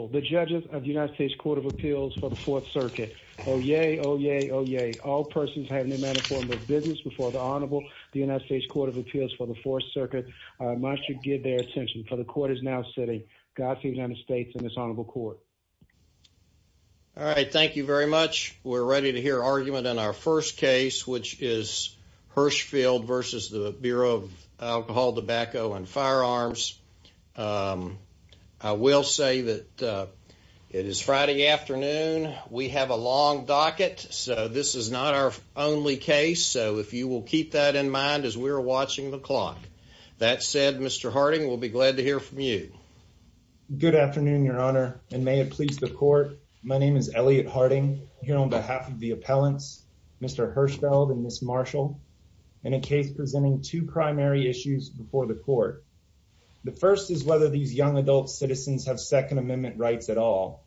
All right. Thank you very much. We're ready to hear argument on our first case, which is Hirschfeld v. Bureau of Alcohol, Tobacco and Firearms. I will say that it is Friday afternoon. We have a long docket, so this is not our only case, so if you will keep that in mind as we are watching the clock. That said, Mr. Harding, we'll be glad to hear from you. Elliot Harding Good afternoon, Your Honor, and may it please the court, my name is Elliot Harding. Here on behalf of the appellants, Mr. Hirschfeld and Ms. Marshall, in a case presenting two primary issues before the court. The first is whether these young adult citizens have Second Amendment rights at all,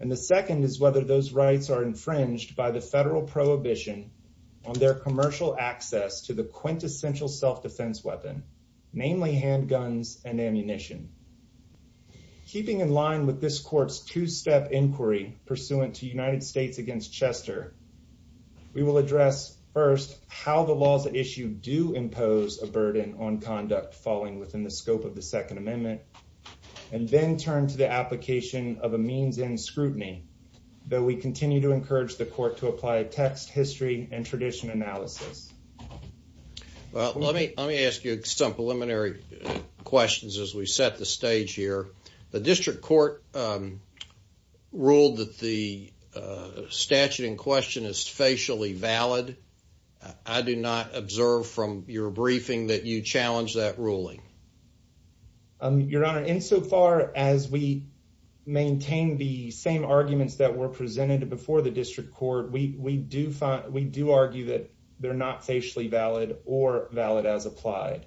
and the second is whether those rights are infringed by the federal prohibition on their commercial access to the quintessential self-defense weapon, namely handguns and ammunition. Keeping in line with this court's two-step inquiry pursuant to United States v. Chester, we will address first how the laws at issue do impose a burden on conduct falling within the scope of the Second Amendment, and then turn to the application of a means in scrutiny, though we continue to encourage the court to apply text, history, and tradition analysis. Judge Goldberg Well, let me ask you some preliminary questions as we set the stage here. The district court ruled that the statute in question is facially valid. I do not observe from your briefing that you challenged that ruling. Mr. Hirschfeld Your Honor, insofar as we maintain the same arguments that were presented before the district court, we do argue that they're not facially valid or valid as applied.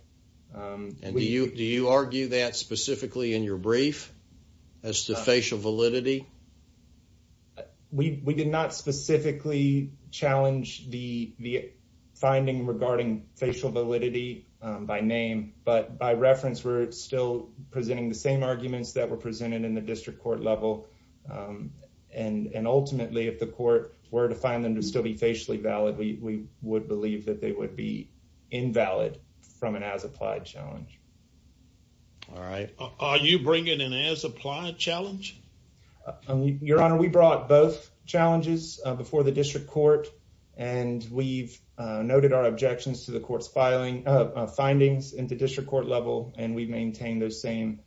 Judge Goldberg And do you argue that specifically in your brief as to facial validity? Mr. Hirschfeld We did not specifically challenge the finding regarding facial validity by name, but by reference, we're still presenting the same arguments that were presented in the district court level. And ultimately, if the court were to find them to still be facially valid, we would believe that they would be invalid Judge Goldberg Are you bringing an as-applied challenge? Mr. Hirschfeld Your Honor, we brought both challenges before the district court, and we've noted our objections to the court's findings in the district court level, and we've maintained those same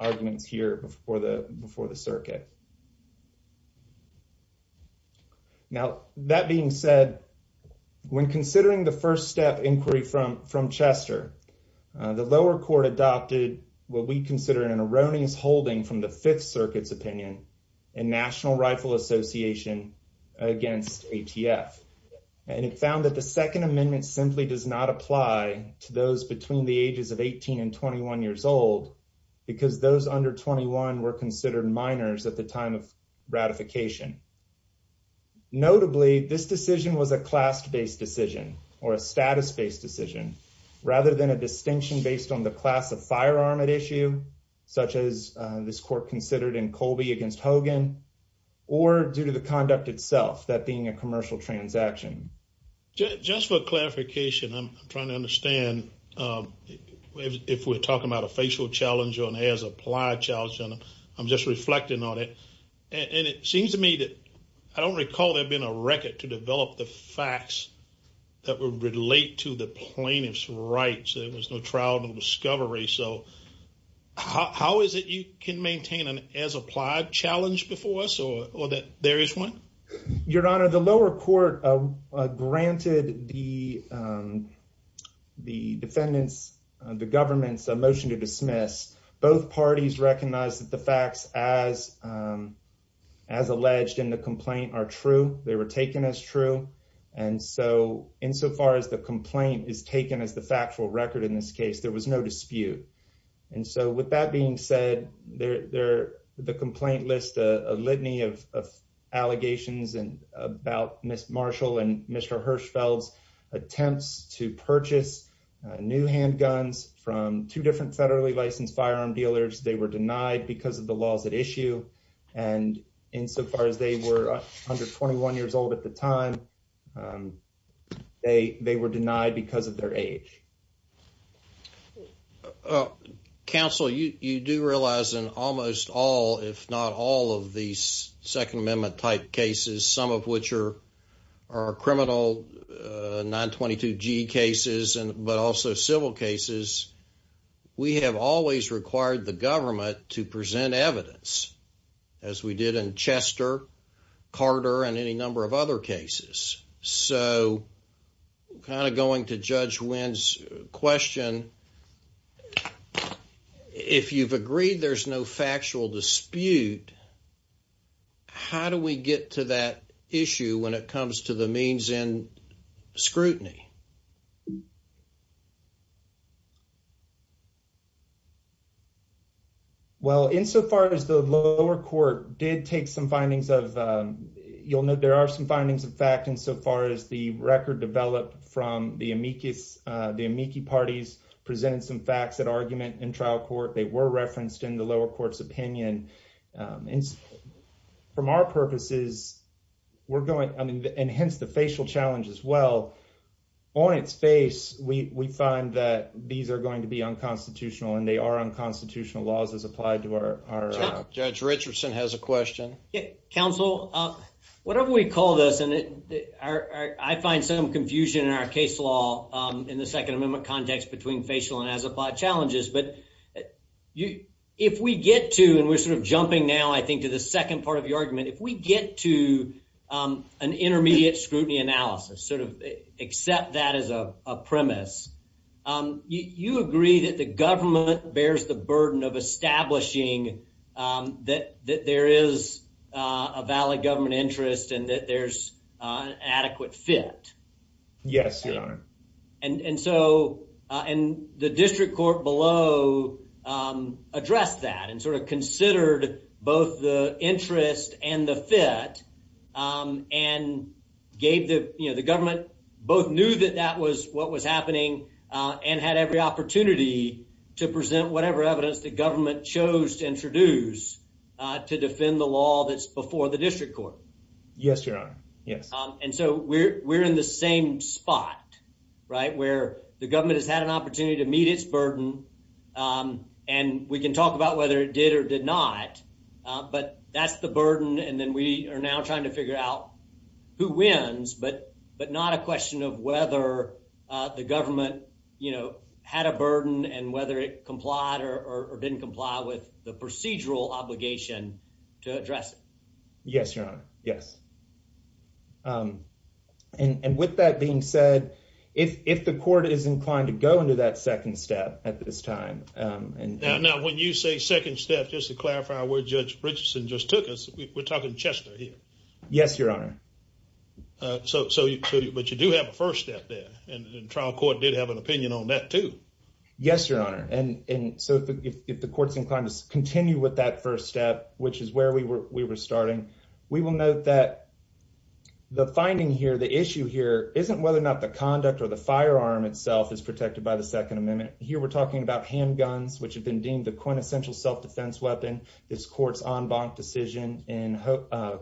arguments here before the circuit. Now, that being said, when considering the first step inquiry from Chester, the lower court adopted what we consider an erroneous holding from the Fifth Circuit's opinion in National Rifle Association against ATF. And it found that the Second Amendment simply does not apply to those between the ages of 18 and 21 years old, because those under 21 were considered minors at the time of ratification. Notably, this decision was a class-based decision or a status-based decision, rather than a distinction based on the class of firearm at issue, such as this court considered in Colby against Hogan, or due to the conduct itself, that being a commercial transaction. Judge Goldberg Just for clarification, I'm trying to understand if we're talking about a facial challenge or an as-applied challenge. I'm just reflecting on it. And it seems to me that I don't recall there being a record to develop the facts that would relate to the plaintiff's rights. There was no trial, no discovery. So how is it you can maintain an as-applied challenge before us, or that there is one? Your Honor, the lower court granted the defendant's, the government's, a motion to dismiss. Both parties recognized that the facts as alleged in the complaint are true. They were taken as true. And so, insofar as the complaint is taken as the factual record in this case, there was no dispute. And so, with that being said, the complaint lists a litany of allegations about Ms. Marshall and Mr. Hirschfeld's attempts to purchase new handguns from two different federally licensed firearm dealers. They were denied because of the laws at issue. And insofar as they were under 21 years old at the time, they were denied because of their age. Counsel, you do realize in almost all, if not all, of these Second Amendment-type cases, some of which are criminal 922G cases, but also civil cases, we have always required the government to present evidence, as we did in Chester, Carter, and any number of other cases. So, kind of going to Judge Winn's question, if you've agreed there's no factual dispute, how do we get to that issue when it comes to the means and scrutiny? Well, insofar as the lower court did take some findings of, you'll note there are some findings of fact insofar as the record developed from the amici parties presented some facts at argument in trial court. They were referenced in the lower court's opinion. From our purposes, and hence the facial challenge as well, on its face, we find that these are going to be unconstitutional, and they are unconstitutional laws as applied to our... Judge Richardson has a question. Counsel, whatever we call this, and I find some confusion in our case law in the Second Amendment context between facial and as applied challenges, but if we get to, and we're sort of jumping now, I think, to the second part of your argument, if we get to an intermediate scrutiny analysis, sort of accept that as a premise, you agree that the government bears the burden of establishing that there is a valid government interest and that there's an adequate fit? Yes, Your Honor. And so, and the district court below addressed that and sort of considered both the interest and the fit and gave the, you know, the government both knew that that was what was happening and had every opportunity to present whatever evidence the government chose to introduce to defend the law that's before the district court. Yes, Your Honor. Yes. And so, we're in the same spot, right, where the government has had an opportunity to meet its burden, and we can talk about whether it did or did not, but that's the burden, and then we are now trying to figure out who wins, but not a question of whether the government, you know, had a burden and whether it complied or didn't comply with the procedural obligation to address it. Yes, Your Honor. Yes. And with that being said, if the court is inclined to go into that second step at this time. Now, when you say second step, just to clarify where Judge Richardson just took us, we're talking Chester here. Yes, Your Honor. So, but you do have a first step there, and the trial court did have an opinion on that too. Yes, Your Honor. And so, if the court's inclined to continue with that first step, which is where we were starting, we will note that the finding here, the issue here, isn't whether or not the conduct or the firearm itself is protected by the Second Amendment. Here, we're talking about handguns, which have been deemed the quintessential self-defense weapon. This court's en banc decision in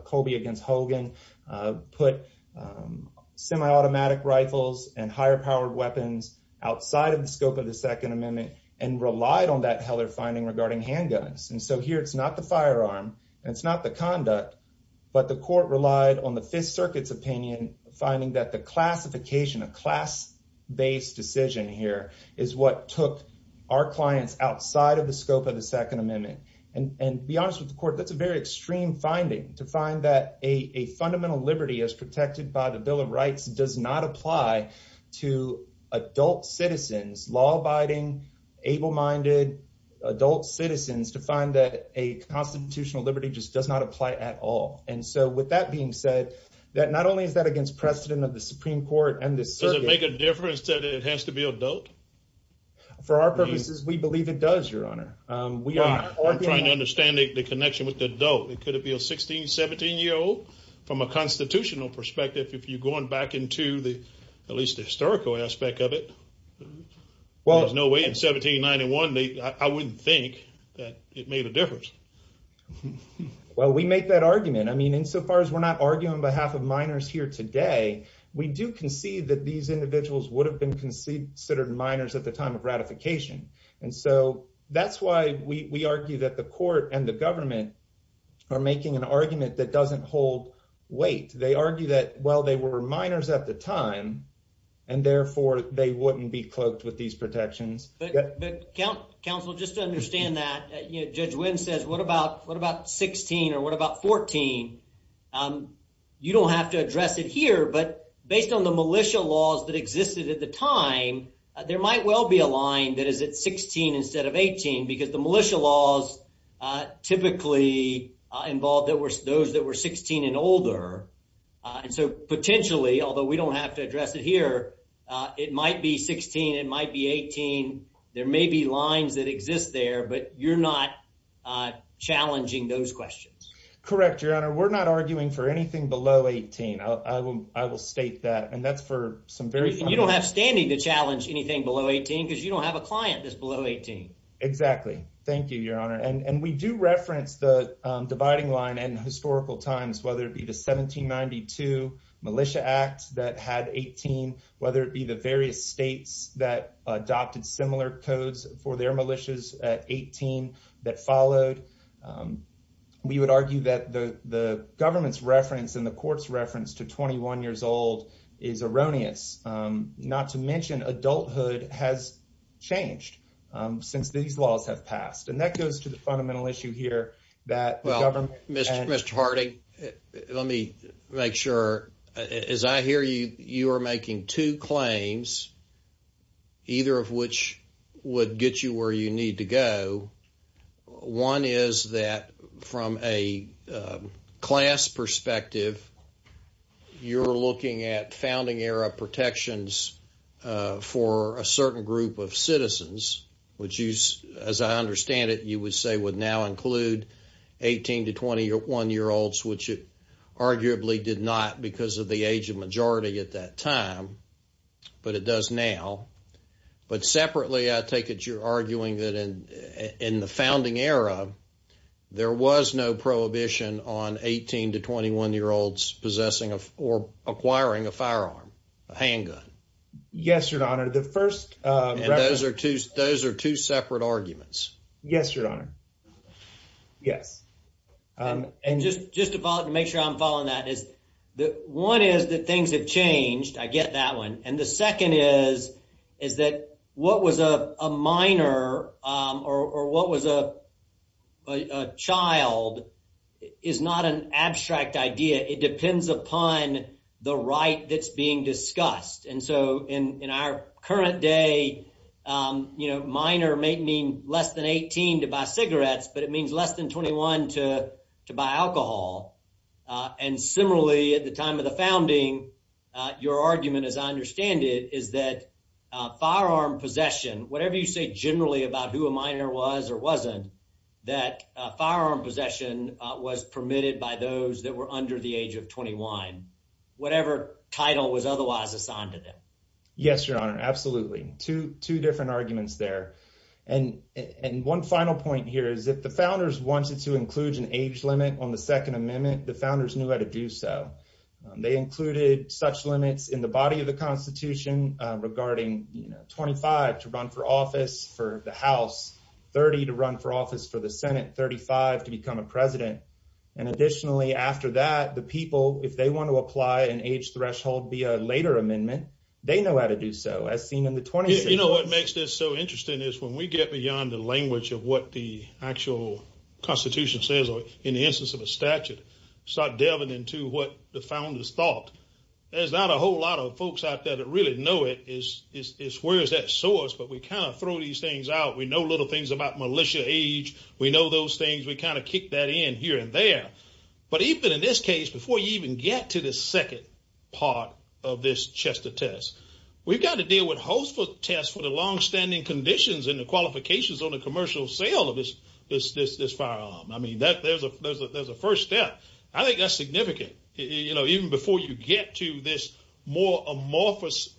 Colby v. Hogan put semi-automatic rifles and higher-powered weapons outside of the scope of the Second Amendment and relied on that Heller finding regarding handguns. And so, here, it's not the firearm, and it's not the conduct, but the court relied on the Fifth Circuit's opinion, finding that the classification, a class-based decision here, is what took our clients outside of the scope of the Second Amendment. And to be honest with the court, that's a very extreme finding, to find that a fundamental liberty as protected by the Bill of Rights does not apply to adult citizens, law-abiding, able-minded, adult citizens, to find that a constitutional liberty just does not apply at all. And so, with that being said, not only is that against precedent of the Supreme Court and the circuit... Does it make a difference that it has to be adult? For our purposes, we believe it does, Your Honor. I'm trying to understand the connection with the adult. Could it be a 16, 17-year-old? From a constitutional perspective, if you're no way in 1791, I wouldn't think that it made a difference. Well, we make that argument. I mean, insofar as we're not arguing on behalf of minors here today, we do concede that these individuals would have been considered minors at the time of ratification. And so, that's why we argue that the court and the government are making an argument that doesn't hold weight. They argue that, well, they were minors at the time, and therefore, they wouldn't be cloaked with these protections. But, counsel, just to understand that, Judge Wynn says, what about 16 or what about 14? You don't have to address it here, but based on the militia laws that existed at the time, there might well be a line that is at 16 instead of 18 because the militia laws typically involved those that were 16 and older. And so, potentially, although we don't have to address it here, it might be 16, it might be 18. There may be lines that exist there, but you're not challenging those questions. Correct, Your Honor. We're not arguing for anything below 18. I will state that. And that's for some very... You don't have standing to challenge anything below 18 because you don't have a client that's below 18. Exactly. Thank you, Your Honor. And we do reference the dividing line in historical times, whether it be the 1792 Militia Act that had 18, whether it be the various states that adopted similar codes for their militias at 18 that followed. We would argue that the government's reference and the court's reference to 21 years old is erroneous, not to mention adulthood has changed since these laws have passed. And that goes to the fundamental issue here that the government... Well, Mr. Harding, let me make sure. As I hear you, you are making two claims, either of which would get you where you need to go. One is that from a class perspective, you're looking at founding era protections for a certain group of citizens, which you, as I understand it, you would say would now include 18 to 21-year-olds, which it arguably did not because of the age of majority at that time, but it does now. But separately, I take it you're arguing that in the founding era, there was no prohibition on 18 to 21-year-olds possessing or acquiring a firearm, a handgun. Yes, Your Honor. The first... Those are two separate arguments. Yes, Your Honor. Yes. And just to make sure I'm following that, one is that things have changed. I get that one. The second is that what was a minor or what was a child is not an abstract idea. It depends upon the right that's being discussed. In our current day, minor may mean less than 18 to buy cigarettes, but it means less than 21 to buy alcohol. Similarly, at the time of the founding, your argument, as I understand it, is that firearm possession, whatever you say generally about who a minor was or wasn't, that firearm possession was permitted by those that were under the age of 21, whatever title was otherwise assigned to them. Yes, Your Honor. Absolutely. Two different arguments there. And one final point here is if the founders wanted to include an age limit on the Second Amendment, the founders knew how to do so. They included such limits in the body of the Constitution regarding 25 to run for office for the House, 30 to run for office for the Senate, 35 to become a president. And additionally, after that, the people, if they want to apply an age threshold via a later amendment, they know how to do so as seen in the 26th. You know what makes this so interesting is when we get beyond the language of what the actual Constitution says in the instance of a statute, start delving into what the founders thought. There's not a whole lot of folks out there that really know it. It's where is that source, but we kind of throw these things out. We know little things about militia age. We know those things. We kind of kick that in here and there. But even in this case, before you even get to the second part of this Chester test, we've got to deal with host for tests for the longstanding conditions and the qualifications on the commercial sale of this firearm. I mean, there's a first step. I think that's significant. Even before you get to this more amorphous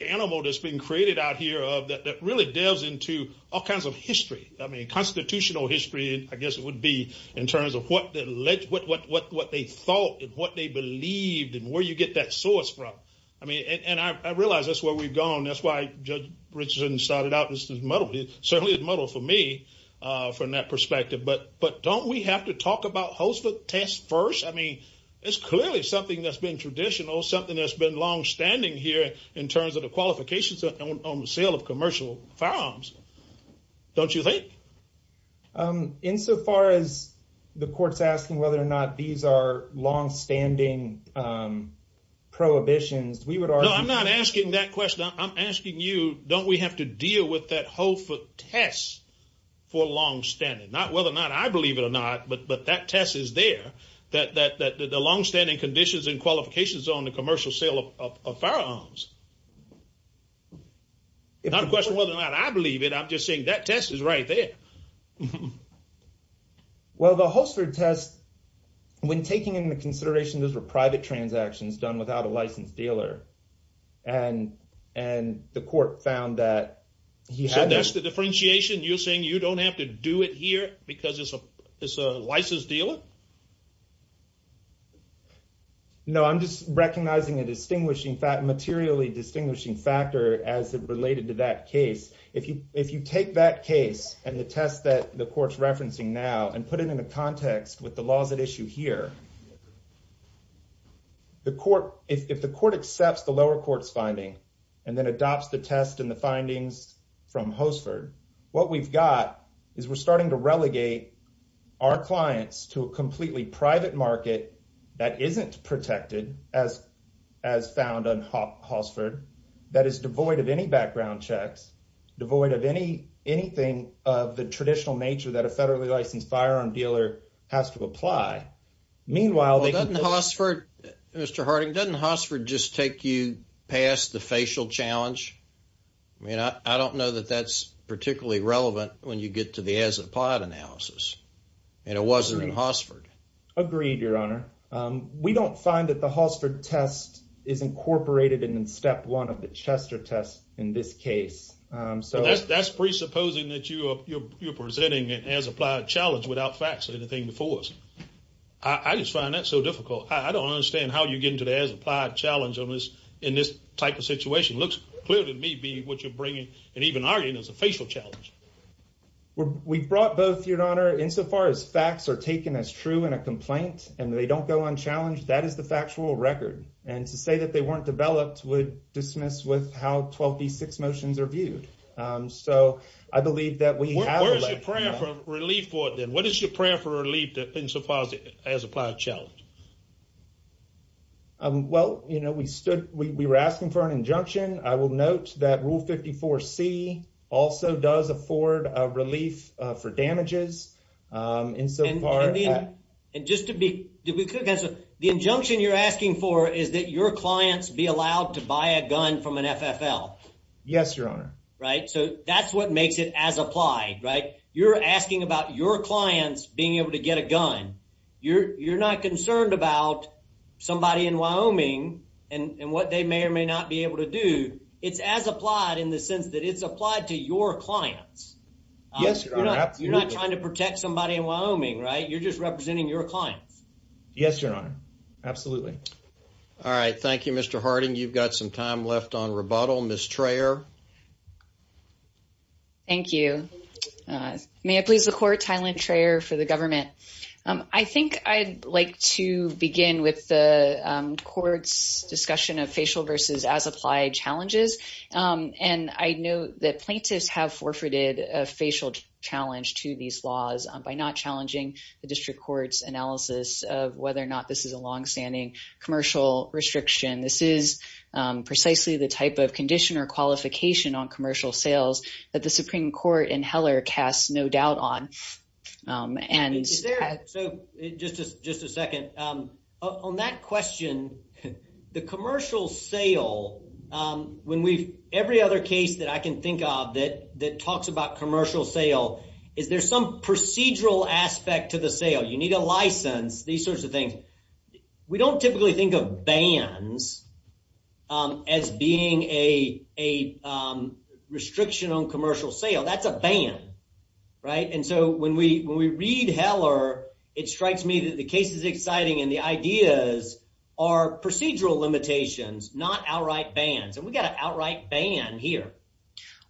animal that's been created out here that really delves into all kinds of history. I mean, constitutional history, I guess it would be in terms of what they thought and what they believed and where you get that source from. And I realize that's where we've gone. That's why Judge Richardson started out. This is muddled. It certainly is muddled for me from that perspective. But don't we have to talk about host for tests first? I mean, it's clearly something that's been traditional, something that's been longstanding here in terms of the qualifications on the sale of commercial firearms. Don't you think? Insofar as the court's asking whether or not these are longstanding prohibitions, we I'm not asking that question. I'm asking you, don't we have to deal with that host for tests for longstanding? Not whether or not I believe it or not, but that test is there that the longstanding conditions and qualifications on the commercial sale of firearms. It's not a question whether or not I believe it. I'm just saying that test is right there. Well, the host for tests, when taking into consideration those were private transactions done without a licensed dealer, and the court found that he had... So that's the differentiation? You're saying you don't have to do it here because it's a licensed dealer? No, I'm just recognizing a distinguishing fact, materially distinguishing factor as it related to that case. If you take that case and the test that the court's referencing now and put it in a context with the laws at issue here, if the court accepts the lower court's finding and then adopts the test and the findings from Hossford, what we've got is we're starting to relegate our clients to a completely private market that isn't protected as found on Hossford, that is devoid of any background checks, devoid of anything of the traditional nature that a federally licensed firearm dealer has to apply. Meanwhile, they can... Well, doesn't Hossford, Mr. Harding, doesn't Hossford just take you past the facial challenge? I mean, I don't know that that's particularly relevant when you get to the as-applied analysis, and it wasn't in Hossford. Agreed, Your Honor. We don't find that the Hossford test is incorporated in step one of the Chester test in this case. That's presupposing that you're presenting an as-applied challenge without facts or anything before us. I just find that so difficult. I don't understand how you get into the as-applied challenge in this type of situation. It looks clear to me, B, what you're bringing and even arguing is a facial challenge. We brought both, Your Honor. Insofar as facts are taken as true in a complaint and they don't go on challenge, that is the factual record. And to say that they weren't developed would dismiss with how 12b6 motions are viewed. So I believe that we have... Where is your prayer for relief for it then? What is your prayer for relief insofar as applied challenge? Well, you know, we stood, we were asking for an injunction. I will note that rule 54c also does afford a relief for damages. And just to be clear, the injunction you're asking for is that your clients be allowed to buy a gun from an FFL. Yes, Your Honor. Right? So that's what makes it as-applied, right? You're asking about your clients being able to get a gun. You're not concerned about somebody in Wyoming and what they may or may not be able to do. It's as-applied in the sense that it's applied to your clients. Yes, Your Honor. Absolutely. You're not trying to protect somebody in Wyoming, right? You're just representing your clients. Yes, Your Honor. Absolutely. All right. Thank you, Mr. Harding. You've got some time left on rebuttal. Ms. Trayor. Thank you. May I please record Tylan Trayor for the government? I think I'd like to begin with the court's discussion of facial versus as-applied challenges. And I know that plaintiffs have forfeited a facial challenge to these laws by not challenging the district court's analysis of whether or not this is a longstanding commercial restriction. This is precisely the type of condition or qualification on commercial sales that the Supreme Court and Heller cast no doubt on. And- So just a second. On that question, the commercial sale, every other case that I can think of that some procedural aspect to the sale, you need a license, these sorts of things, we don't typically think of bans as being a restriction on commercial sale. That's a ban, right? And so when we read Heller, it strikes me that the case is exciting and the ideas are procedural limitations, not outright bans. And we've got an outright ban here.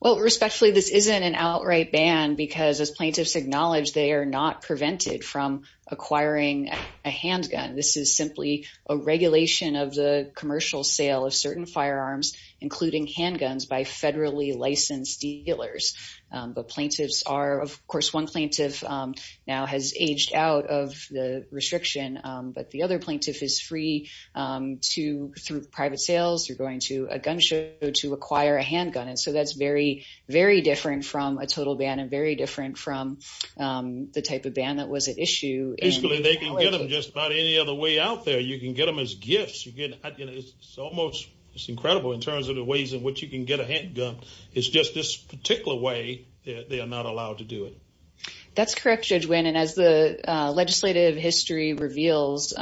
Well, respectfully, this isn't an outright ban because as plaintiffs acknowledge, they are not prevented from acquiring a handgun. This is simply a regulation of the commercial sale of certain firearms, including handguns by federally licensed dealers. But plaintiffs are, of course, one plaintiff now has aged out of the restriction, but the other plaintiff is free to, through private sales, you're going to a gun show to acquire a handgun. And so that's very, very different from a total ban and very different from the type of ban that was at issue- Basically, they can get them just about any other way out there. You can get them as gifts. It's incredible in terms of the ways in which you can get a handgun. It's just this particular way that they are not allowed to do it. That's correct, Judge Winn. And as the legislative history reveals,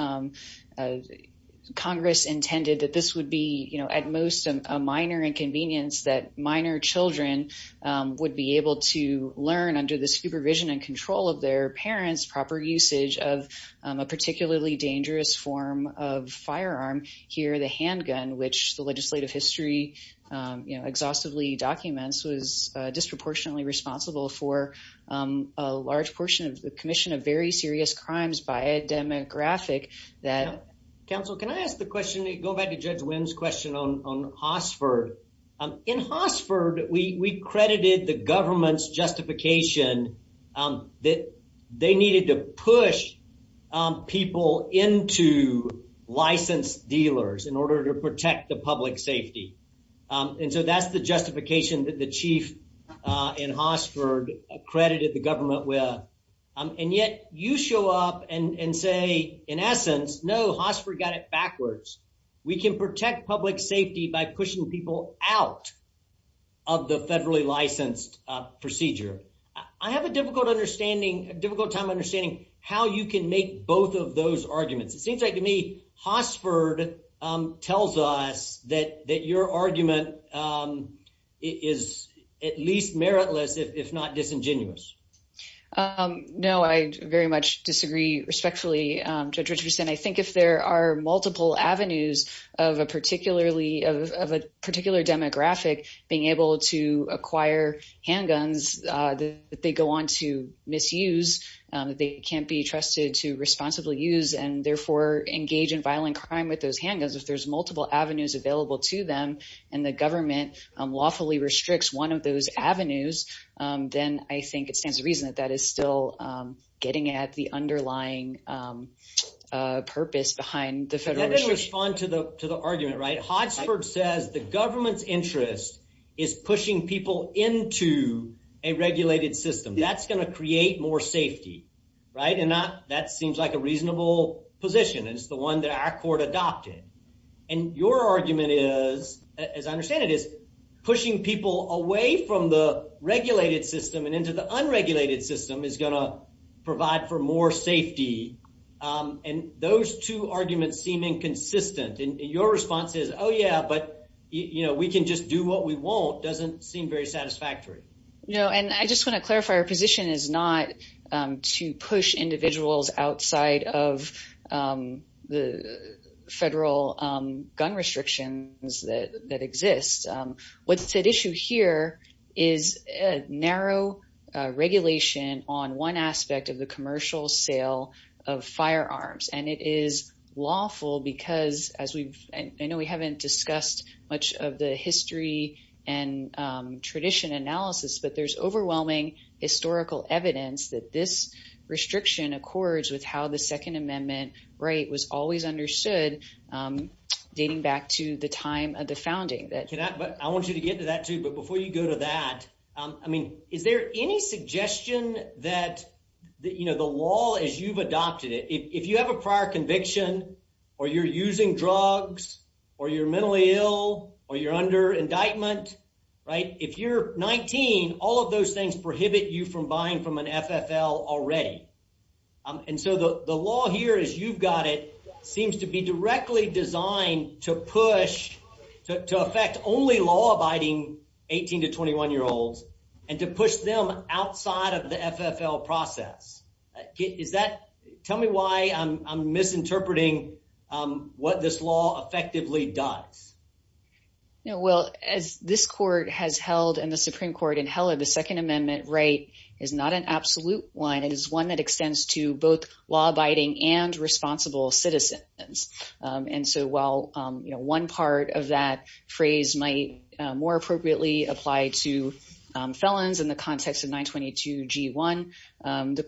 Congress intended that this would be at most a minor inconvenience that minor children would be able to learn under the supervision and control of their parents, proper usage of a particularly dangerous form of firearm here, the handgun, which the legislative history exhaustively documents was disproportionately responsible for a large portion of the Commission of Very Serious Crimes by a demographic that- Counsel, can I ask the question, go back to Judge Winn's question on Hossford. In Hossford, we credited the government's justification that they needed to push people into licensed dealers in order to protect the and so that's the justification that the chief in Hossford accredited the government with. And yet, you show up and say, in essence, no, Hossford got it backwards. We can protect public safety by pushing people out of the federally licensed procedure. I have a difficult time understanding how you can make both of those arguments. It seems like to me, Hossford tells us that your argument is at least meritless, if not disingenuous. No, I very much disagree respectfully, Judge Richardson. I think if there are multiple avenues of a particular demographic being able to acquire handguns that they go on to misuse, they can't be trusted to responsibly use and therefore engage in violent crime with those avenues available to them and the government lawfully restricts one of those avenues, then I think it stands to reason that that is still getting at the underlying purpose behind the federal regime. Let me respond to the argument. Hossford says the government's interest is pushing people into a regulated system. That's going to create more safety. And that seems like a reasonable position. It's the one that our court adopted. And your argument is, as I understand it, is pushing people away from the regulated system and into the unregulated system is going to provide for more safety. And those two arguments seem inconsistent. And your response is, oh, yeah, but we can just do what we want doesn't seem very satisfactory. No, and I just want to clarify, our position is not to push individuals outside of the federal gun restrictions that exist. What's at issue here is a narrow regulation on one aspect of the commercial sale of firearms. And it is lawful because as we've, I know we haven't discussed much of the history and tradition analysis, but there's overwhelming historical evidence that this restriction accords with how the Second Amendment right was always understood, dating back to the time of the founding. I want you to get to that too. But before you go to that, I mean, is there any suggestion that, you know, the law as you've adopted it, if you have a prior conviction, or you're using drugs, or you're mentally ill, or you're under indictment, right, if you're 19, all of those things prohibit you from buying from an FFL already. And so the law here is you've got it seems to be directly designed to push to affect only law abiding 18 to 21 year olds, and to push them outside of the FFL process. Is that tell me why I'm misinterpreting what this law effectively does? You know, well, as this court has held in the Supreme Court in Heller, the Second Amendment right is not an absolute line, it is one that extends to both law abiding and responsible citizens. And so while, you know, one part of that phrase might more appropriately apply to the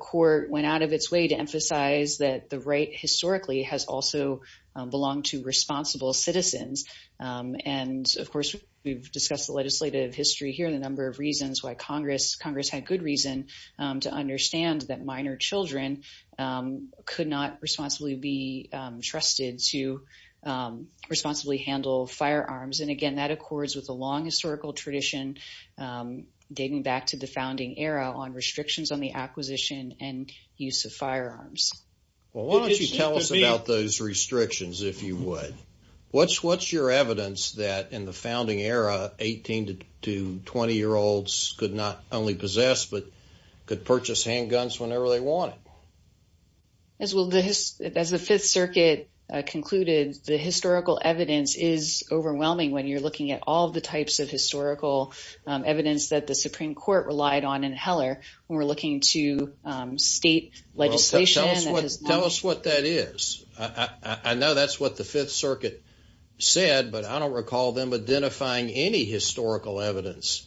court went out of its way to emphasize that the right historically has also belonged to responsible citizens. And of course, we've discussed the legislative history here, the number of reasons why Congress, Congress had good reason to understand that minor children could not responsibly be trusted to responsibly handle firearms. And again, that accords with the acquisition and use of firearms. Well, why don't you tell us about those restrictions, if you would, what's what's your evidence that in the founding era, 18 to 20 year olds could not only possess, but could purchase handguns whenever they wanted? As well, as the Fifth Circuit concluded, the historical evidence is overwhelming when you're looking at all the types of historical evidence that the Supreme Court relied on in Heller, when we're looking to state legislation. Tell us what that is. I know that's what the Fifth Circuit said, but I don't recall them identifying any historical evidence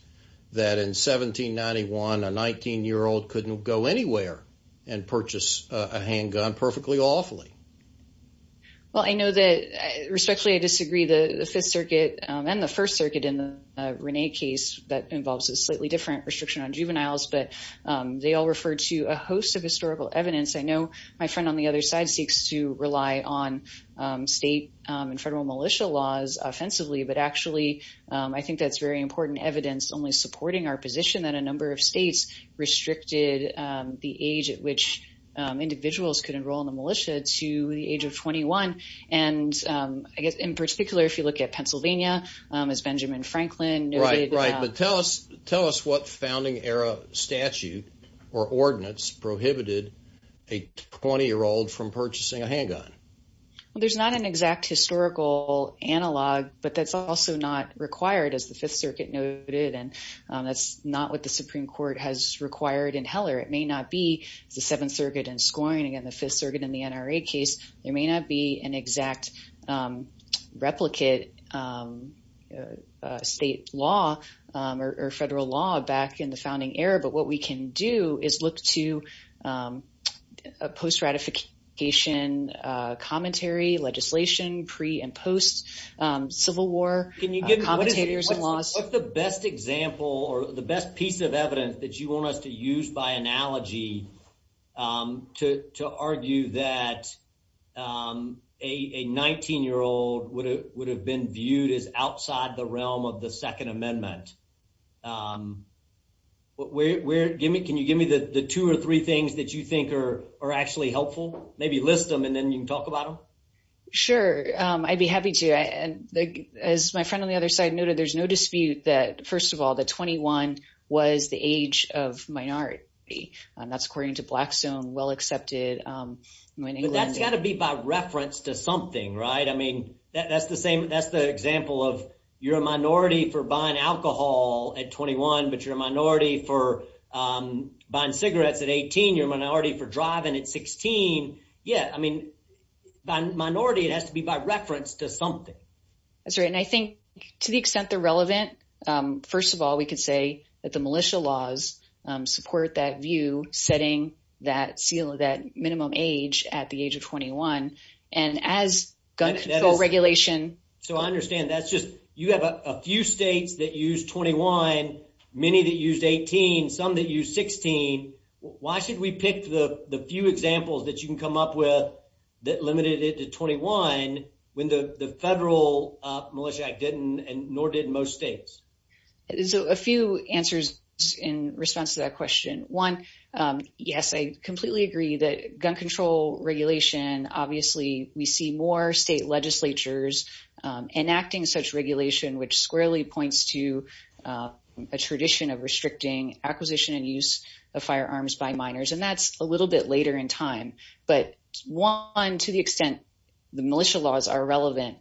that in 1791, a 19 year old couldn't go anywhere and purchase a handgun perfectly awfully. Well, I know that respectfully, I disagree the Fifth Circuit and the First Circuit in the case that involves a slightly different restriction on juveniles, but they all refer to a host of historical evidence. I know my friend on the other side seeks to rely on state and federal militia laws offensively. But actually, I think that's very important evidence only supporting our position that a number of states restricted the age at which individuals could enroll in the militia to the age of 21. And I guess in particular, if you look at Pennsylvania, as Benjamin Franklin noted... Right, right. But tell us what founding era statute or ordinance prohibited a 20 year old from purchasing a handgun. Well, there's not an exact historical analog, but that's also not required as the Fifth Circuit noted. And that's not what the Supreme Court has required in Heller. It may not be the Seventh Circuit and scoring again, the Fifth Circuit in the NRA case, there may not be an exact replicate of state law or federal law back in the founding era. But what we can do is look to a post-ratification commentary, legislation, pre and post Civil War commentators and laws. What's the best example or the best piece of evidence that you want us to use by analogy to argue that a 19 year old would have been viewed as outside the realm of the Second Amendment? Can you give me the two or three things that you think are actually helpful? Maybe list them and then you can talk about them. Sure. I'd be happy to. And as my friend on the other side noted, there's no dispute that, first of all, the 21 was the age of minority. And that's according to Blackstone, well accepted. That's got to be by reference to something, right? I mean, that's the same. That's the example of you're a minority for buying alcohol at 21, but you're a minority for buying cigarettes at 18. You're a minority for driving at 16. Yeah. I mean, by minority, it has to be by reference to something. That's right. And I think to the extent they're relevant, first of all, we could say that the militia laws support that view, setting that minimum age at the age of 21. And as gun control regulation... So I understand that's just, you have a few states that use 21, many that used 18, some that use 16. Why should we pick the few examples that you can come up with that limited it to 21 when the Federal Militia Act didn't and nor did most states? So a few answers in response to that question. One, yes, I completely agree that gun control regulation, obviously, we see more state legislatures enacting such regulation, which squarely points to a tradition of restricting acquisition and use of firearms by minors. And that's a little bit in time. But one, to the extent the militia laws are relevant,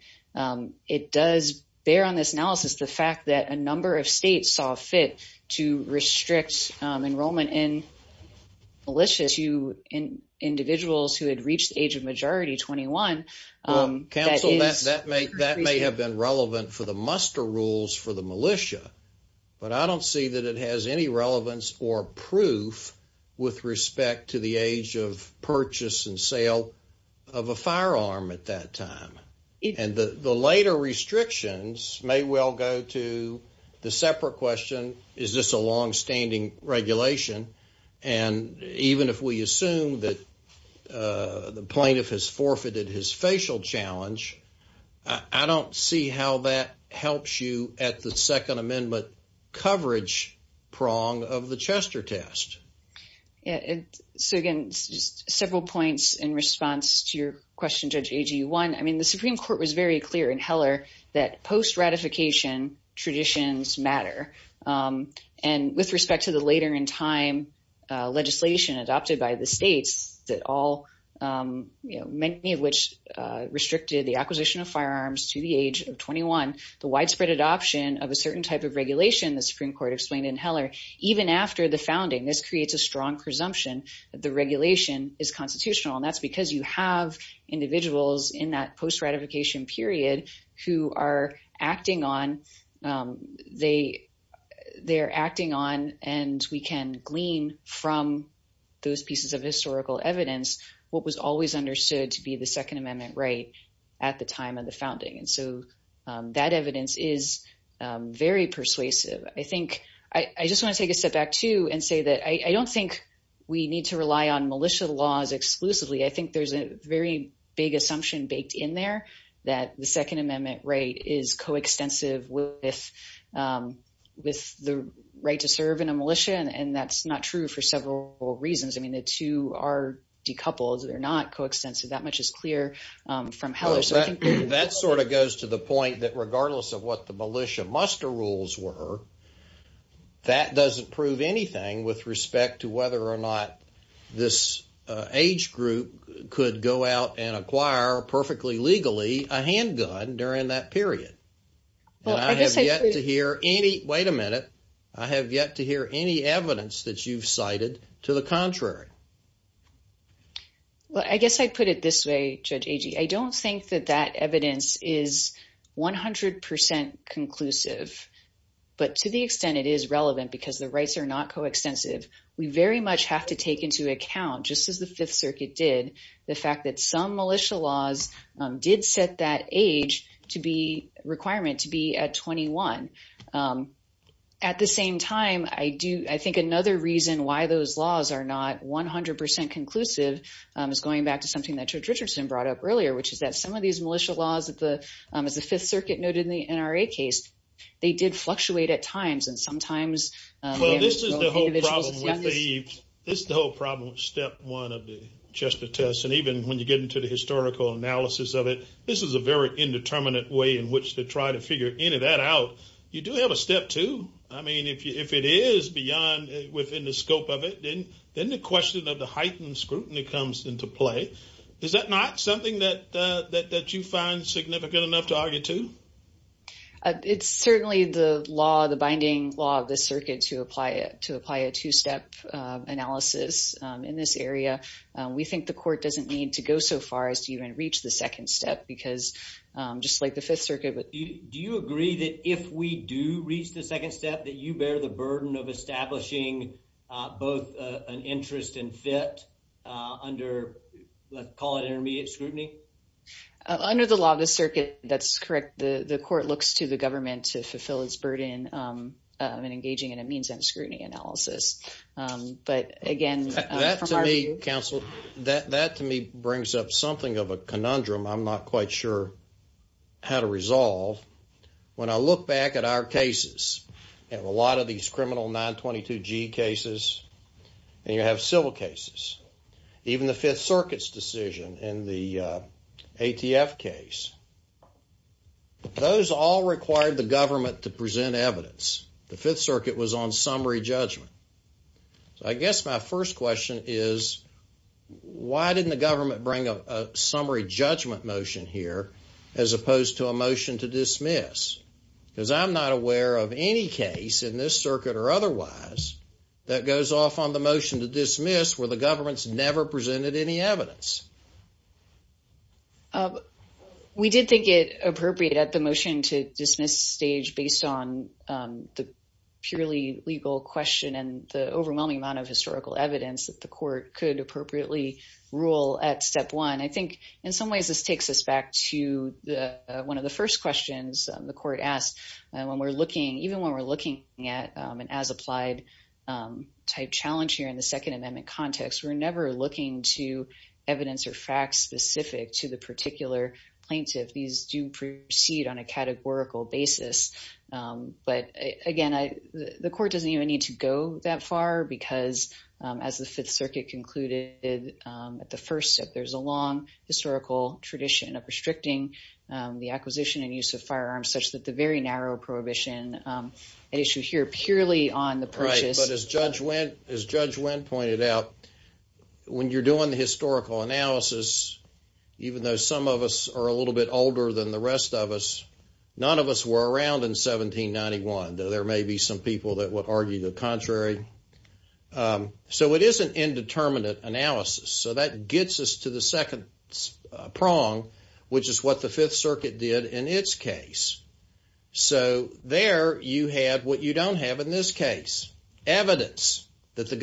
it does bear on this analysis, the fact that a number of states saw fit to restrict enrollment in militia to individuals who had reached the age of majority, 21. Counsel, that may have been relevant for the muster rules for the militia, but I don't see that it has any relevance or proof with respect to the age of purchase and sale of a firearm at that time. And the later restrictions may well go to the separate question, is this a longstanding regulation? And even if we assume that the plaintiff has forfeited his facial challenge, I don't see how that helps you at the Second Amendment coverage prong of the Chester test. So, again, just several points in response to your question, Judge Agee. One, I mean, the Supreme Court was very clear in Heller that post-ratification traditions matter. And with respect to the later in time legislation adopted by the states that all, you know, many of which restricted the acquisition of firearms to the age of 21, the widespread adoption of a certain type of regulation, the Supreme Court explained in Heller, even after the founding, this creates a strong presumption that the regulation is constitutional. And that's because you have individuals in that post-ratification period who are acting on, they're acting on and we can glean from those pieces of historical evidence what was always understood to be the Second Amendment right at the time of the founding. And so that evidence is very persuasive. I think, I just want to take a step back too and say that I don't think we need to rely on militia laws exclusively. I think there's a very big assumption baked in there that the Second Amendment right is coextensive with the right to serve in a militia. And that's not true for several reasons. I mean, the two are decoupled. They're not coextensive. That much is clear from Heller. Well, that sort of goes to the point that regardless of what the militia muster rules were, that doesn't prove anything with respect to whether or not this age group could go out and acquire perfectly legally a handgun during that period. And I have yet to hear any, wait a minute, I have yet to hear any evidence that you've cited to the contrary. Well, I guess I'd put it this way, Judge Agee. I don't think that that evidence is 100% conclusive, but to the extent it is relevant because the rights are not coextensive, we very much have to take into account, just as the Fifth Circuit did, the fact that some militia laws did set that age requirement to be at 21. At the same time, I think another reason why those laws are not 100% conclusive is going back to something that Judge Richardson brought up earlier, which is that some of these militia laws, as the Fifth Circuit noted in the NRA case, they did fluctuate at times. And sometimes- Well, this is the whole problem with the, this is the whole problem with step one of the Chester test. And even when you get into the historical analysis of it, this is a very indeterminate way in which to try to figure any of that out. You do have a step two. I mean, if it is beyond, within the scope of it, then the question of the heightened scrutiny comes into play. Is that not something that you find significant enough to argue to? It's certainly the law, the binding law of the circuit to apply a two-step analysis in this area. We think the court doesn't need to go so far as to even reach the second step because, just like the Fifth Circuit, but- Do you agree that if we do reach the second step, that you bear the burden of establishing both an interest and fit under, let's call it intermediate scrutiny? Under the law of the circuit, that's correct. The court looks to the government to fulfill its burden in engaging in a means and scrutiny analysis. But again, from our view- Counsel, that to me brings up something of a conundrum. I'm not quite sure how to resolve. When I look back at our cases, and a lot of these criminal 922G cases, and you have civil cases, even the Fifth Circuit's decision in the ATF case, those all required the government to present evidence. The Fifth Circuit was on summary judgment. So, I guess my first question is, why didn't the government bring a summary judgment motion here as opposed to a motion to dismiss? Because I'm not aware of any case in this circuit or otherwise that goes off on the motion to dismiss where the government's never presented any evidence. We did think it appropriate at the motion to dismiss stage based on the purely legal question and the overwhelming amount of historical evidence that the court could appropriately rule at step one. I think, in some ways, this takes us back to one of the first questions the court asked. When we're looking, even when we're looking at an as-applied type challenge here in the Second Amendment context, we're never looking to evidence or facts specific to the particular plaintiff. These do proceed on a categorical basis. But, again, the court doesn't even need to go that far because, as the Fifth Circuit concluded at the first step, there's a long historical tradition of restricting the acquisition and use of firearms such that the very narrow prohibition at issue here purely on the purchase. Right, but as Judge Wendt pointed out, when you're doing the historical analysis, even though some of us are a little bit older than the rest of us, none of us were around in 1791, though there may be some people that would argue the contrary. So, it is an indeterminate analysis. So, that gets us to the second prong, which is what the Fifth Circuit did in its case. So, there you had what you don't have in this case, evidence that the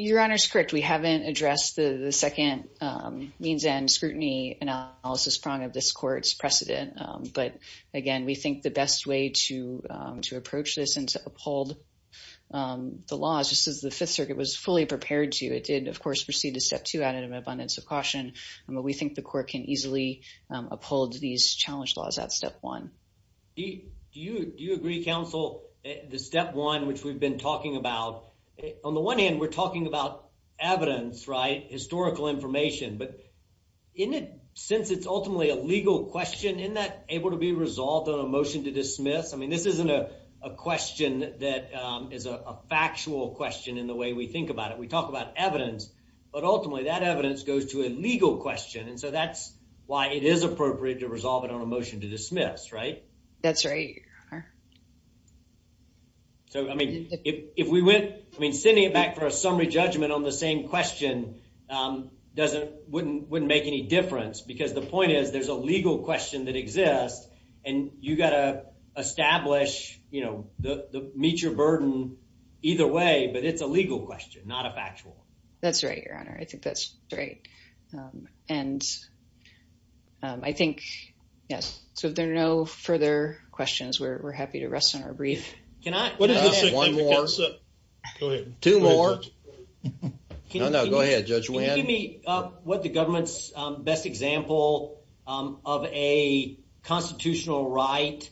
Your Honor is correct. We haven't addressed the second means and scrutiny analysis prong of this court's precedent. But, again, we think the best way to approach this and to uphold the law is just as the Fifth Circuit was fully prepared to. It did, of course, proceed to step two out of abundance of caution, but we think the court can easily uphold these challenge laws at step one. Do you agree, counsel, the step one, which we've been talking about? On the one hand, we're talking about evidence, right, historical information, but isn't it, since it's ultimately a legal question, isn't that able to be resolved on a motion to dismiss? I mean, this isn't a question that is a factual question in the way we think about it. We talk about evidence, but ultimately that evidence goes to a legal question, and so that's why it is appropriate to resolve it on a motion to dismiss, right? That's right, Your Honor. So, I mean, if we went, I mean, sending it back for a summary judgment on the same question doesn't, wouldn't make any difference, because the point is there's a legal question that exists, and you got to establish, you know, meet your burden either way, but it's a legal question, not a factual. That's right, Your Honor. I think that's right, and I think, yes, so if there are no further questions, we're happy to rest on our brief. Can I? One more. Two more. No, no, go ahead, Judge Wynn. Can you give me what the government's best example of a constitutional right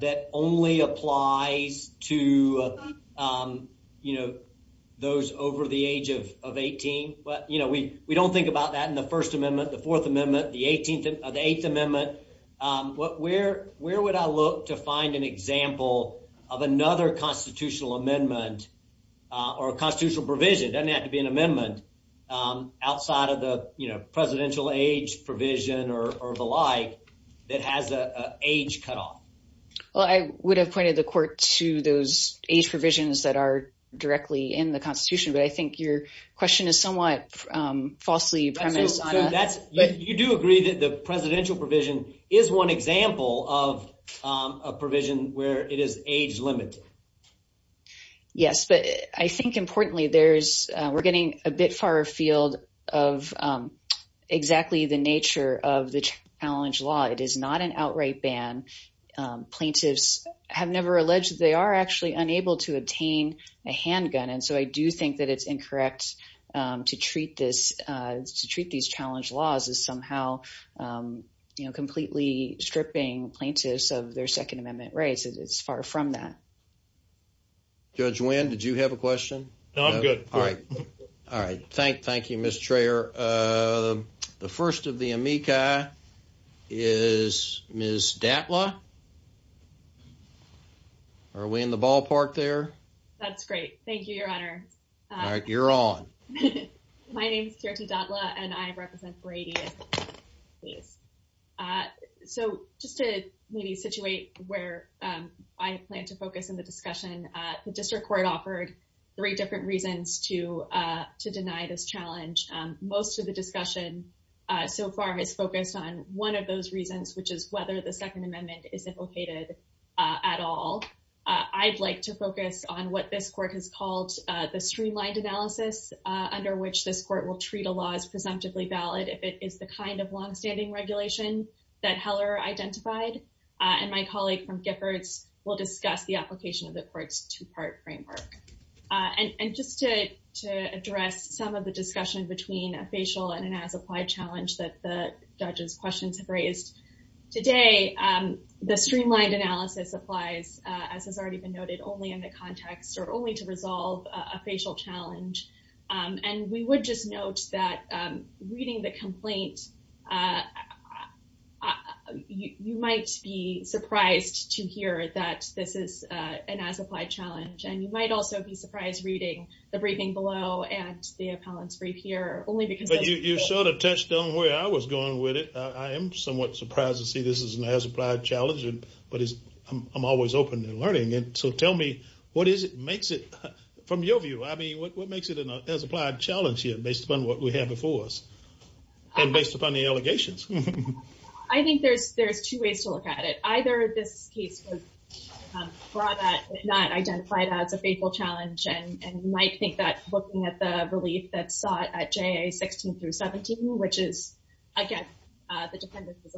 that only applies to, you know, those over the age of 18? But, you know, we don't think about that in the First Amendment, the Fourth Amendment, the Eighth Amendment. Where would I look to find an example of another constitutional amendment or a constitutional provision? It doesn't have to be an amendment outside of the, you know, presidential age provision or the like that has an age cutoff. Well, I would have pointed the court to those age provisions that are directly in the Constitution, but I think your question is somewhat falsely premised on that. So that's, but you do agree that the presidential provision is one example of a provision where it is age limited. Yes, but I think, importantly, there's, we're getting a bit far afield of exactly the nature of the challenge law. It is not an outright ban. Plaintiffs have never alleged that they are actually unable to obtain a handgun, and so I do think that it's incorrect to treat this, to treat these challenge laws as somehow, you know, completely stripping plaintiffs of their from that. Judge Wynn, did you have a question? No, I'm good. All right. All right. Thank you, Ms. Trayor. The first of the amici is Ms. Datla. Are we in the ballpark there? That's great. Thank you, Your Honor. All right, you're on. My name is Kirti Datla, and I represent Brady. So just to maybe situate where I plan to focus in the discussion, the district court offered three different reasons to deny this challenge. Most of the discussion so far has focused on one of those reasons, which is whether the Second Amendment is implicated at all. I'd like to focus on what this court has called the streamlined analysis, under which this court will treat a law as presumptively valid if it is the kind of long-standing regulation that Heller identified. And my colleague from Giffords will discuss the application of the court's two-part framework. And just to address some of the discussion between a facial and an as-applied challenge that the judges' questions have raised, today, the streamlined analysis applies, as has already been noted, only in the context or only to resolve a facial challenge. And we would just note that reading the complaint, you might be surprised to hear that this is an as-applied challenge. And you might also be surprised reading the briefing below and the appellant's brief here, only because... But you sort of touched on where I was going with it. I am somewhat surprised to see this is an as-applied challenge, but I'm always open and learning. And so tell me, what is it, from your view, I mean, what makes it an as-applied challenge here, based upon what we have before us and based upon the allegations? I think there's two ways to look at it. Either this case would draw that, if not, identify it as a facial challenge, and you might think that looking at the relief that's sought at JA 16 through 17, which is, again, the defendant as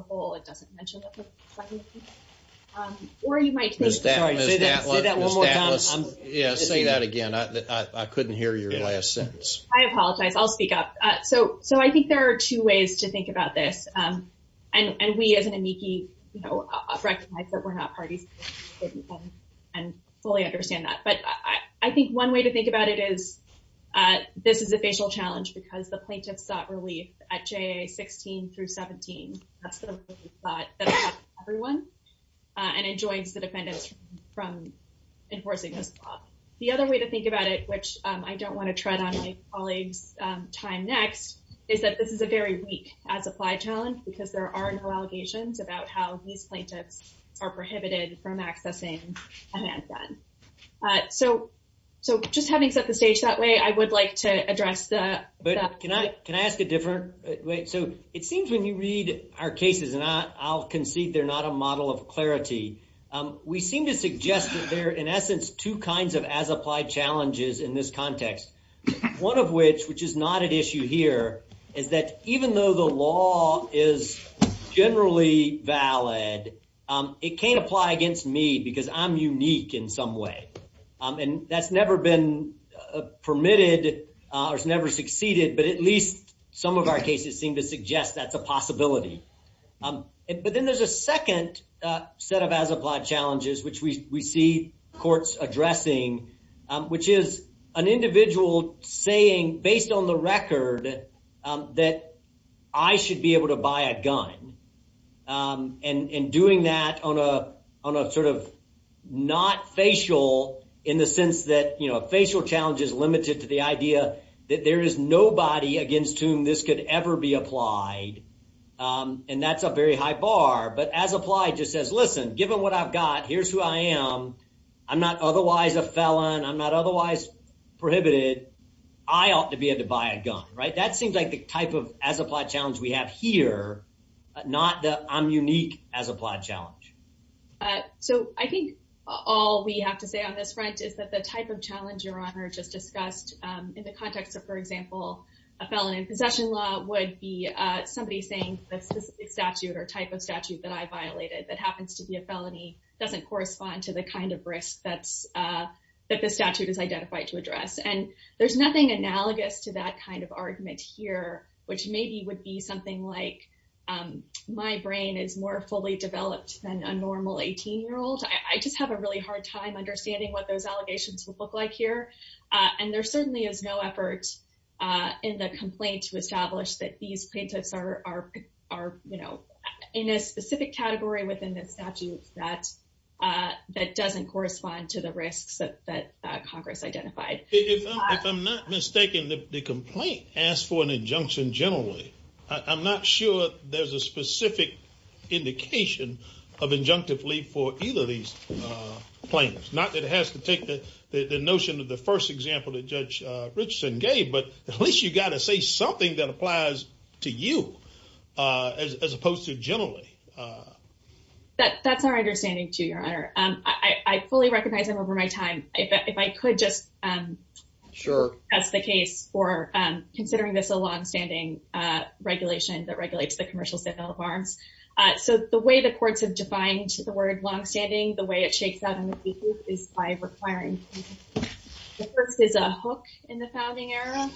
saying that again, I couldn't hear your last sentence. I apologize. I'll speak up. So I think there are two ways to think about this. And we, as an amici, recognize that we're not parties and fully understand that. But I think one way to think about it is, this is a facial challenge because the plaintiff sought relief at JA 16 through 17. That's the from enforcing this law. The other way to think about it, which I don't want to tread on my colleague's time next, is that this is a very weak as-applied challenge because there are no allegations about how these plaintiffs are prohibited from accessing a handgun. So just having set the stage that way, I would like to address the... But can I ask a different way? So it seems when you read our cases, and I'll concede they're not a model of clarity, we seem to suggest that there are, in essence, two kinds of as-applied challenges in this context. One of which, which is not at issue here, is that even though the law is generally valid, it can't apply against me because I'm unique in some way. And that's never been permitted or has never succeeded, but at least some of our cases seem to suggest that's a possibility. But then there's a second set of as-applied challenges, which we see courts addressing, which is an individual saying, based on the record, that I should be able to buy a gun. And doing that on a sort of not facial, in the sense that a facial challenge is limited to the idea that there is nobody against whom this could ever be applied, and that's a very high bar. But as-applied just says, listen, given what I've got, here's who I am, I'm not otherwise a felon, I'm not otherwise prohibited, I ought to be able to buy a gun, right? That seems like the type of as-applied challenge we have here, not that I'm unique as-applied challenge. So I think all we have to say on this front is that the type of challenge, Your Honor, just discussed in the context of, for example, a felon in possession law would be somebody saying the specific statute or type of statute that I violated that happens to be a felony doesn't correspond to the kind of risk that the statute is identified to address. And there's nothing analogous to that kind of argument here, which maybe would be something like, my brain is more fully developed than a normal 18-year-old. I just have a really hard time understanding what those allegations would look like here. And there certainly is no effort in the complaint to establish that these plaintiffs are in a specific category within the statute that doesn't correspond to the risks that Congress identified. If I'm not mistaken, the complaint asked for an injunction generally. I'm not sure there's a specific indication of injunctive leave for either of these plaintiffs. Not that it has to take the notion of the first example that Judge Richardson gave, but at least you got to say something that applies to you as opposed to generally. That's our understanding too, Your Honor. I could just test the case for considering this a long-standing regulation that regulates the commercial sale of arms. So the way the courts have defined the word long-standing, the way it shakes out in the case is by requiring. The first is a hook in the founding era, and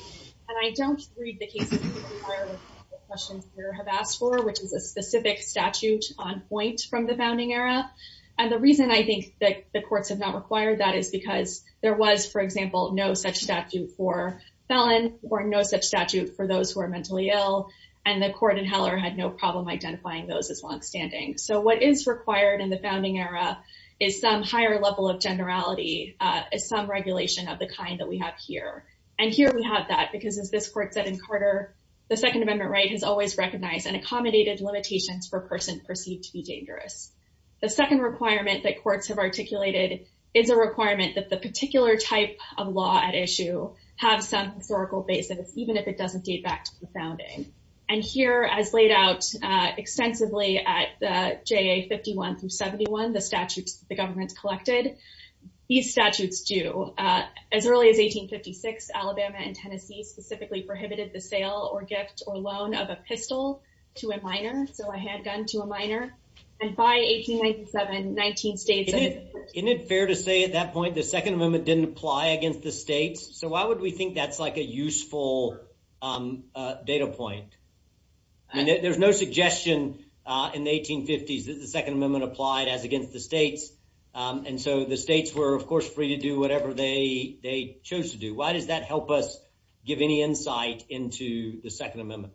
I don't read the cases that require the questions you have asked for, which is a specific statute on point from the founding era. And the reason I think that the courts have not required that is because there was, for example, no such statute for felon or no such statute for those who are mentally ill, and the court in Heller had no problem identifying those as long-standing. So what is required in the founding era is some higher level of generality, some regulation of the kind that we have here. And here we have that because as this court said in Carter, the Second Amendment right has always recognized and accommodated limitations for a person perceived to be dangerous. The second requirement that courts have articulated is a requirement that the particular type of law at issue have some historical basis, even if it doesn't date back to the founding. And here, as laid out extensively at the JA 51 through 71, the statutes the government collected, these statutes do. As early as 1856, Alabama and Tennessee specifically prohibited the and by 1897, 19 states. Isn't it fair to say at that point the Second Amendment didn't apply against the states? So why would we think that's like a useful data point? I mean, there's no suggestion in the 1850s that the Second Amendment applied as against the states. And so the states were, of course, free to do whatever they chose to do. Why does that help us give any insight into the Second Amendment?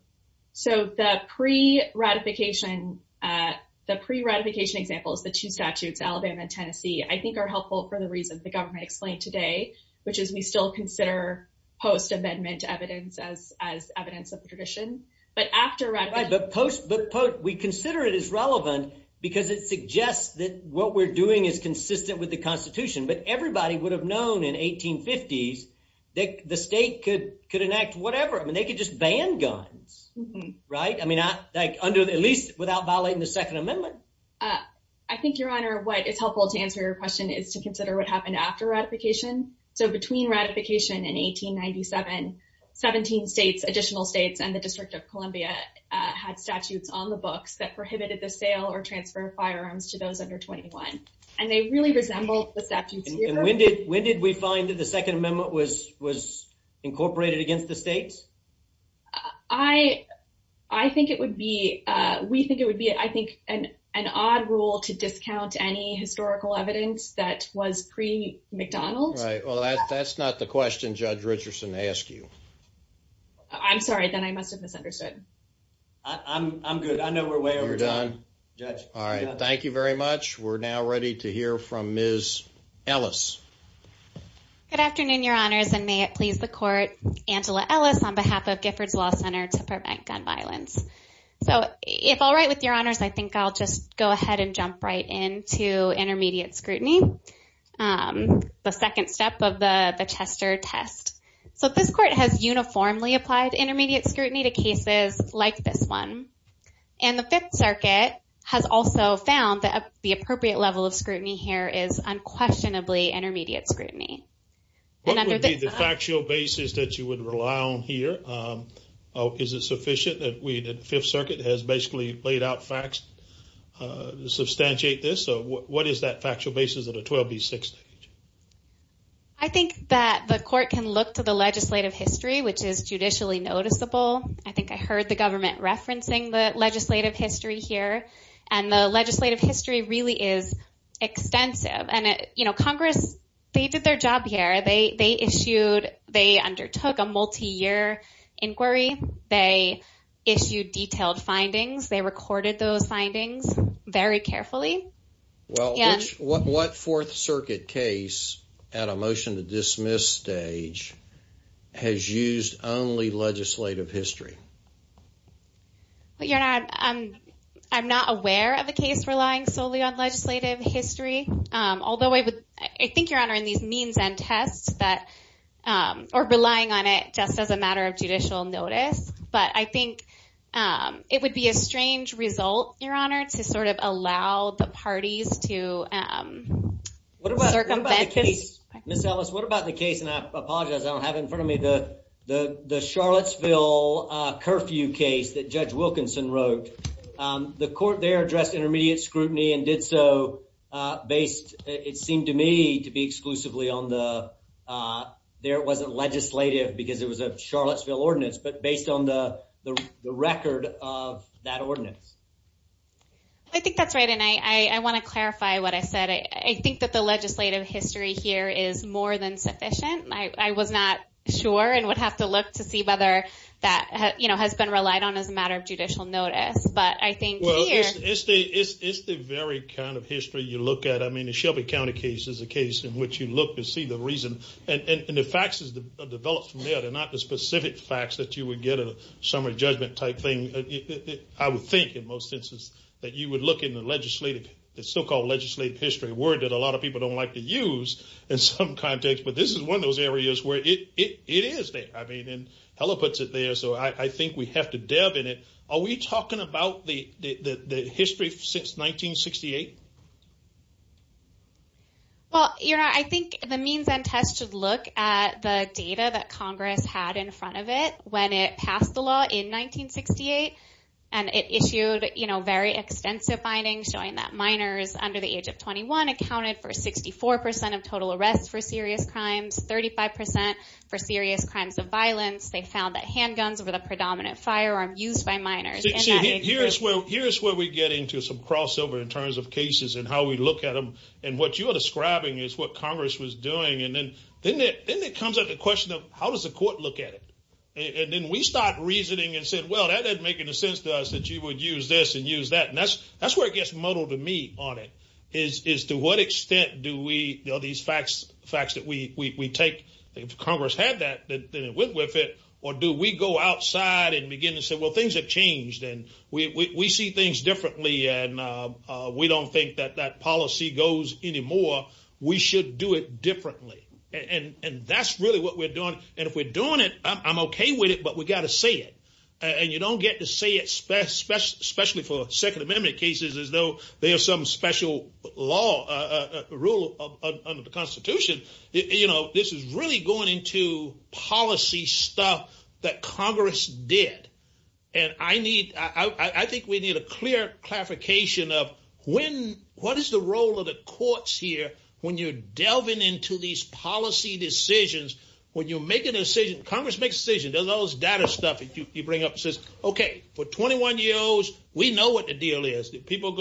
So the pre-ratification, the pre-ratification examples, the two statutes, Alabama and Tennessee, I think are helpful for the reason the government explained today, which is we still consider post-amendment evidence as evidence of the tradition. But after- Right, but we consider it as relevant because it suggests that what we're doing is consistent with the Constitution. But everybody would have known in 1850s that the state could enact whatever. I mean, they could just ban guns, right? I mean, at least without violating the Second Amendment. I think, Your Honor, what is helpful to answer your question is to consider what happened after ratification. So between ratification in 1897, 17 states, additional states, and the District of Columbia had statutes on the books that prohibited the sale or transfer of firearms to those under 21. And they really resembled the statutes. And when did we find that the Second Amendment was incorporated against the states? I think it would be, we think it would be, I think, an odd rule to discount any historical evidence that was pre-McDonald's. Right. Well, that's not the question Judge Richardson asked you. I'm sorry. Then I must have misunderstood. I'm good. I know we're way over time. You're done? Judge. All right. Thank you very much. We're now ready to hear from Ms. Ellis. Good afternoon, Your Honors, and may it please the court, Angela Ellis, on behalf of Giffords Law Center to Prevent Gun Violence. So if all right with Your Honors, I think I'll just go ahead and jump right into intermediate scrutiny, the second step of the Chester test. So this court has uniformly applied intermediate scrutiny to cases like this one. And the Fifth Circuit has also found that the appropriate level of scrutiny here is unquestionably intermediate scrutiny. What would be the factual basis that you would rely on here? Is it sufficient that we, the Fifth Circuit, has basically laid out facts to substantiate this? So what is that factual basis at a 12B6 stage? I think that the court can look to the legislative history, which is judicially noticeable. I think I heard the government referencing the legislative history here. And the legislative history really is extensive. And Congress, they did their job here. They undertook a multi-year inquiry. They issued detailed findings. They recorded those findings very carefully. Well, what Fourth Circuit case at a motion to dismiss stage has used only legislative history? I'm not aware of a case relying solely on legislative history, although I would, I think, Your Honor, in these means and tests that, or relying on it just as a matter of judicial notice. But I think it would be a strange result, Your Honor, to sort of allow the parties to circumvent this. Ms. Ellis, what about the case, and I apologize, I don't have in front of me the Charlottesville curfew case that Judge Wilkinson wrote. The court there addressed intermediate scrutiny and did so based, it seemed to me, to be exclusively on the, there it wasn't legislative because it was a Charlottesville ordinance, but based on the record of that ordinance. I think that's right, and I want to clarify what I said. I think that the legislative history here is more than sufficient. I was not sure and would have to look to see whether that has been relied on as a matter of judicial notice, but I think here- Well, it's the very kind of history you look at. I mean, the Shelby County case is a case in which you look to see the reason, and the facts are developed from there. They're not the specific facts that you would get in a summary judgment type thing. I would think, in most instances, that you would look in the legislative, the so-called legislative history, a word that a lot of people don't like to use in some contexts, but this is one of those areas where it is there. I mean, and Heller puts it there, so I think we have to delve in it. Are we talking about the history since 1968? Well, I think the means and tests should look at the data that Congress had in front of it when it passed the law in 1968, and it issued very extensive findings showing that minors under the age of 21 accounted for 64% of total arrests for serious crimes, 35% for serious crimes of violence. They found that handguns were the main offenders. Here's where we get into some crossover in terms of cases and how we look at them, and what you are describing is what Congress was doing, and then it comes up the question of, how does the court look at it? And then we start reasoning and said, well, that doesn't make any sense to us that you would use this and use that, and that's where it gets muddled to me on it, is to what extent do we know these facts that we take. If Congress had that, then it went with it, or do we go outside and begin to say, well, things have changed, and we see things differently, and we don't think that that policy goes anymore. We should do it differently, and that's really what we're doing, and if we're doing it, I'm okay with it, but we got to say it, and you don't get to say it, especially for Second Amendment cases, as though they have some special rule under the Constitution. This is really going into policy stuff that Congress did, and I think we need a clear clarification of what is the role of the courts here when you're delving into these policy decisions, when you're making a decision, Congress makes a decision. There's all this data stuff that you bring up that says, okay, for 21 years, we know what the deal is. People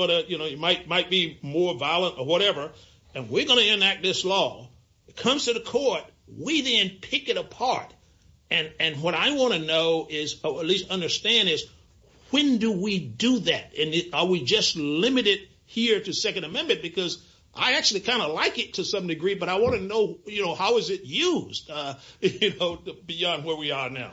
might be more violent or whatever, and we're going to enact this law. It comes to the court. We then pick it apart, and what I want to know, or at least understand, is when do we do that, and are we just limited here to Second Amendment, because I actually kind of like it to some degree, but I want to know how is it used beyond where we are now.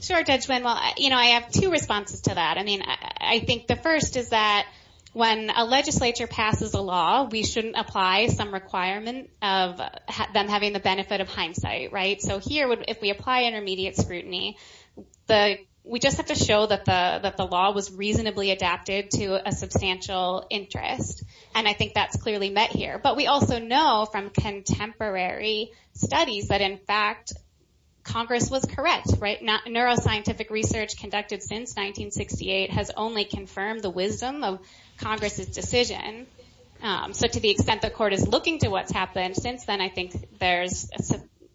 Sure, Judge Wynn. Well, I have two responses to that. I mean, I think the first is that when a legislature passes a law, we shouldn't apply some requirement of them having the benefit of hindsight, right? So here, if we apply intermediate scrutiny, we just have to show that the law was reasonably adapted to a substantial interest, and I think that's clearly met here, but we also know from contemporary studies that, in fact, Congress was correct, right? Neuroscientific research conducted since 1968 has only confirmed the wisdom of Congress's decision, so to the extent the court is looking to what's happened since then, I think there's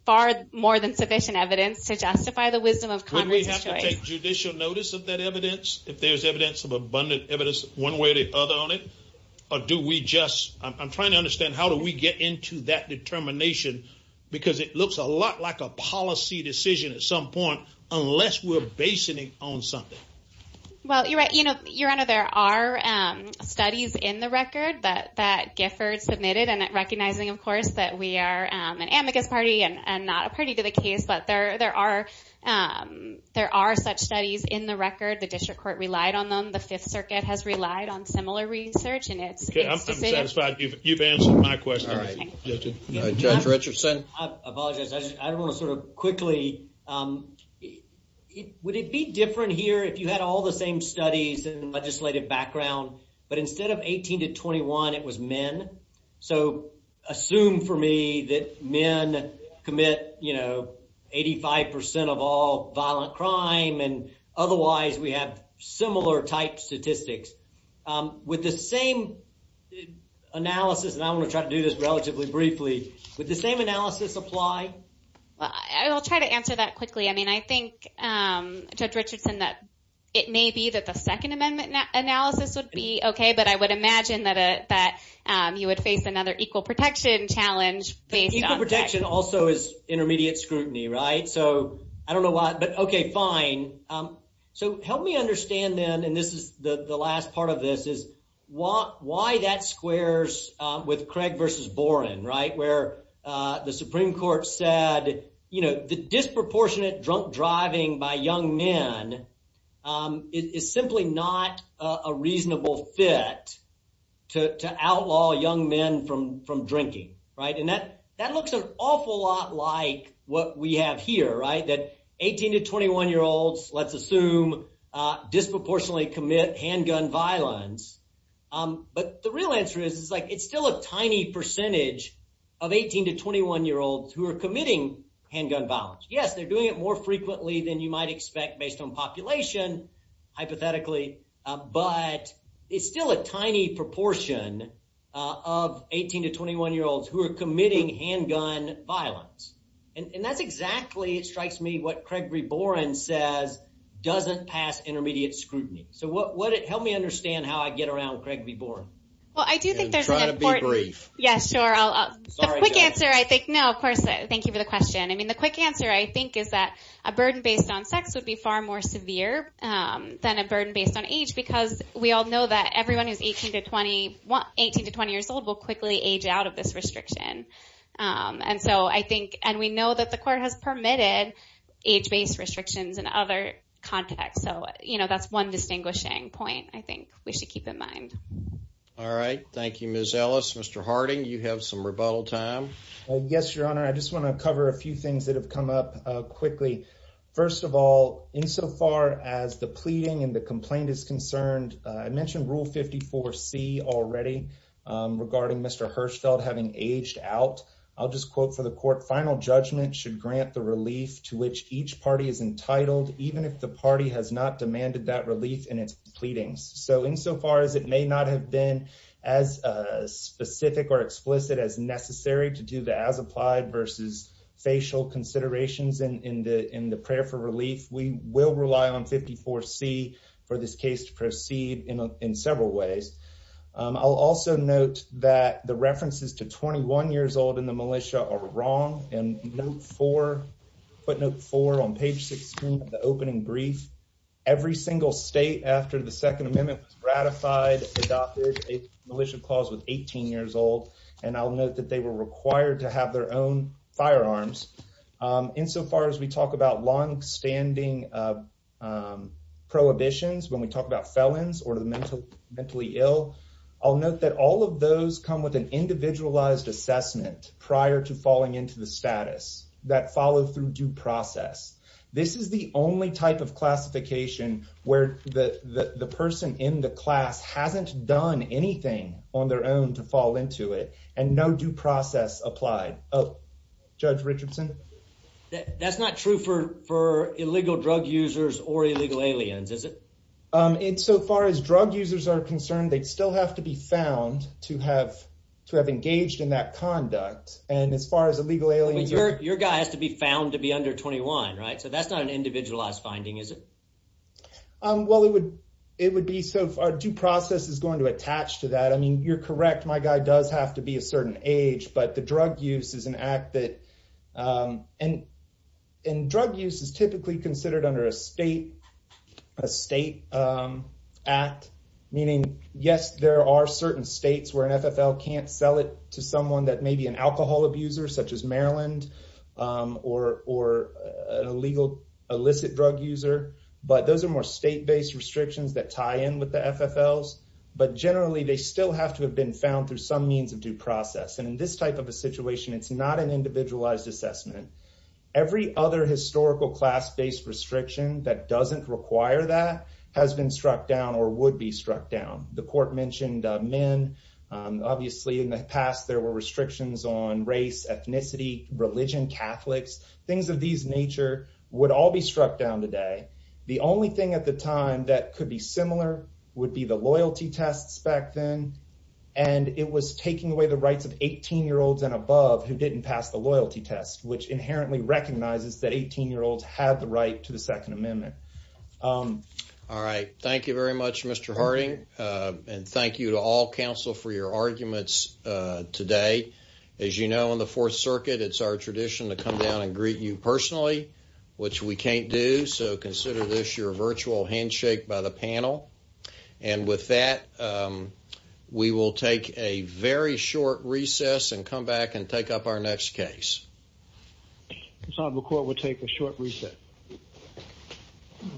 far more than sufficient evidence to justify the wisdom of Congress's choice. Wouldn't we have to take judicial notice of that evidence if there's abundant evidence one way or the other on it, or do we just... I'm trying to understand how do we get into that determination, because it looks a lot like a policy decision at some point, unless we're basing it on something. Well, you're right. Your Honor, there are studies in the record that Gifford submitted, and recognizing, of course, that we are an amicus party and not a party to the case, but there are such studies in the record. The district court relied on them. The Fifth Circuit has relied on similar research, and it's... Okay. I'm satisfied you've answered my question. All right. Judge Richardson? I apologize. I just want to sort of quickly... Would it be different here if you had all the same studies and legislative background, but instead of 18 to 21, it was men? So, assume for me that men commit 85% of all violent crime, and otherwise we have similar type statistics. With the same analysis, and I want to try to do this relatively briefly, would the same analysis apply? I'll try to answer that quickly. I mean, I think, Judge Richardson, that it may be that the Second Amendment analysis would be okay, but I would imagine that you would face another equal protection challenge based on... Equal protection also is intermediate scrutiny, right? So, I don't know why, but okay, fine. So, help me understand then, and this is the last part of this, is why that squares with Craig versus Boren, right? Where the Supreme Court said, you know, the disproportionate drunk driving by to outlaw young men from drinking, right? And that looks an awful lot like what we have here, right? That 18 to 21-year-olds, let's assume, disproportionately commit handgun violence. But the real answer is, it's still a tiny percentage of 18 to 21-year-olds who are committing handgun violence. Yes, they're doing it more frequently than you might expect based on population, hypothetically, but it's still a tiny proportion of 18 to 21-year-olds who are committing handgun violence. And that's exactly, it strikes me, what Craig v. Boren says doesn't pass intermediate scrutiny. So, help me understand how I get around Craig v. Boren. Well, I do think there's an important... And try to be brief. Yeah, sure. The quick answer, I think... No, of course, thank you for the question. I mean, the quick answer, I think, is that a burden based on sex would be far more severe than a burden based on age, because we all know that everyone who's 18 to 20 years old will quickly age out of this restriction. And we know that the court has permitted age-based restrictions in other contexts. So, you know, that's one distinguishing point, I think, we should keep in mind. All right. Thank you, Ms. Ellis. Mr. Harding, you have some rebuttal time. Yes, Your Honor. I just want to cover a few things that have come up quickly. First of all, insofar as the pleading and the complaint is concerned, I mentioned Rule 54C already regarding Mr. Hirschfeld having aged out. I'll just quote for the court, final judgment should grant the relief to which each party is entitled, even if the party has not demanded that relief in its pleadings. So, insofar as it may not have been as specific or as applied versus facial considerations in the prayer for relief, we will rely on 54C for this case to proceed in several ways. I'll also note that the references to 21 years old in the militia are wrong. And footnote four on page 16 of the opening brief, every single state after the Second Amendment was ratified adopted a militia clause with 18 years old. And I'll note they were required to have their own firearms. Insofar as we talk about longstanding prohibitions, when we talk about felons or the mentally ill, I'll note that all of those come with an individualized assessment prior to falling into the status that follow through due process. This is the only type of classification where the person in the class hasn't done anything on their own to fall into it and no due process applied. Oh, Judge Richardson? That's not true for illegal drug users or illegal aliens, is it? So far as drug users are concerned, they still have to be found to have engaged in that conduct. And as far as illegal aliens... Your guy has to be found to be under 21, right? So that's not an individualized finding, is it? Well, it would be so far due process is going to attach to that. I mean, you're correct. My guy does have to be a certain age, but the drug use is an act that... And drug use is typically considered under a state act. Meaning, yes, there are certain states where an FFL can't sell it to someone that may be an alcohol abuser, such as Maryland, or an illicit drug user. But those are more state-based restrictions that tie in with the FFLs. But generally, they still have to have been found through some means of due process. And in this type of a situation, it's not an individualized assessment. Every other historical class-based restriction that doesn't require that has been struck down or would be struck down. The court mentioned men. Obviously, in the past, there were restrictions on race, ethnicity, religion, Catholics, things of these nature would all be struck down today. The only thing at the time that could be similar would be the loyalty tests back then. And it was taking away the rights of 18-year-olds and above who didn't pass the loyalty test, which inherently recognizes that 18-year-olds had the right to the Second Amendment. All right. Thank you very much, Mr. Harding. And thank you to all counsel for your arguments today. As you know, in the Fourth Circuit, it's our tradition to come down and greet you personally, which we can't do. So, consider this your virtual handshake by the panel. And with that, we will take a very short recess and come back and take up our next case. The court will take a short recess.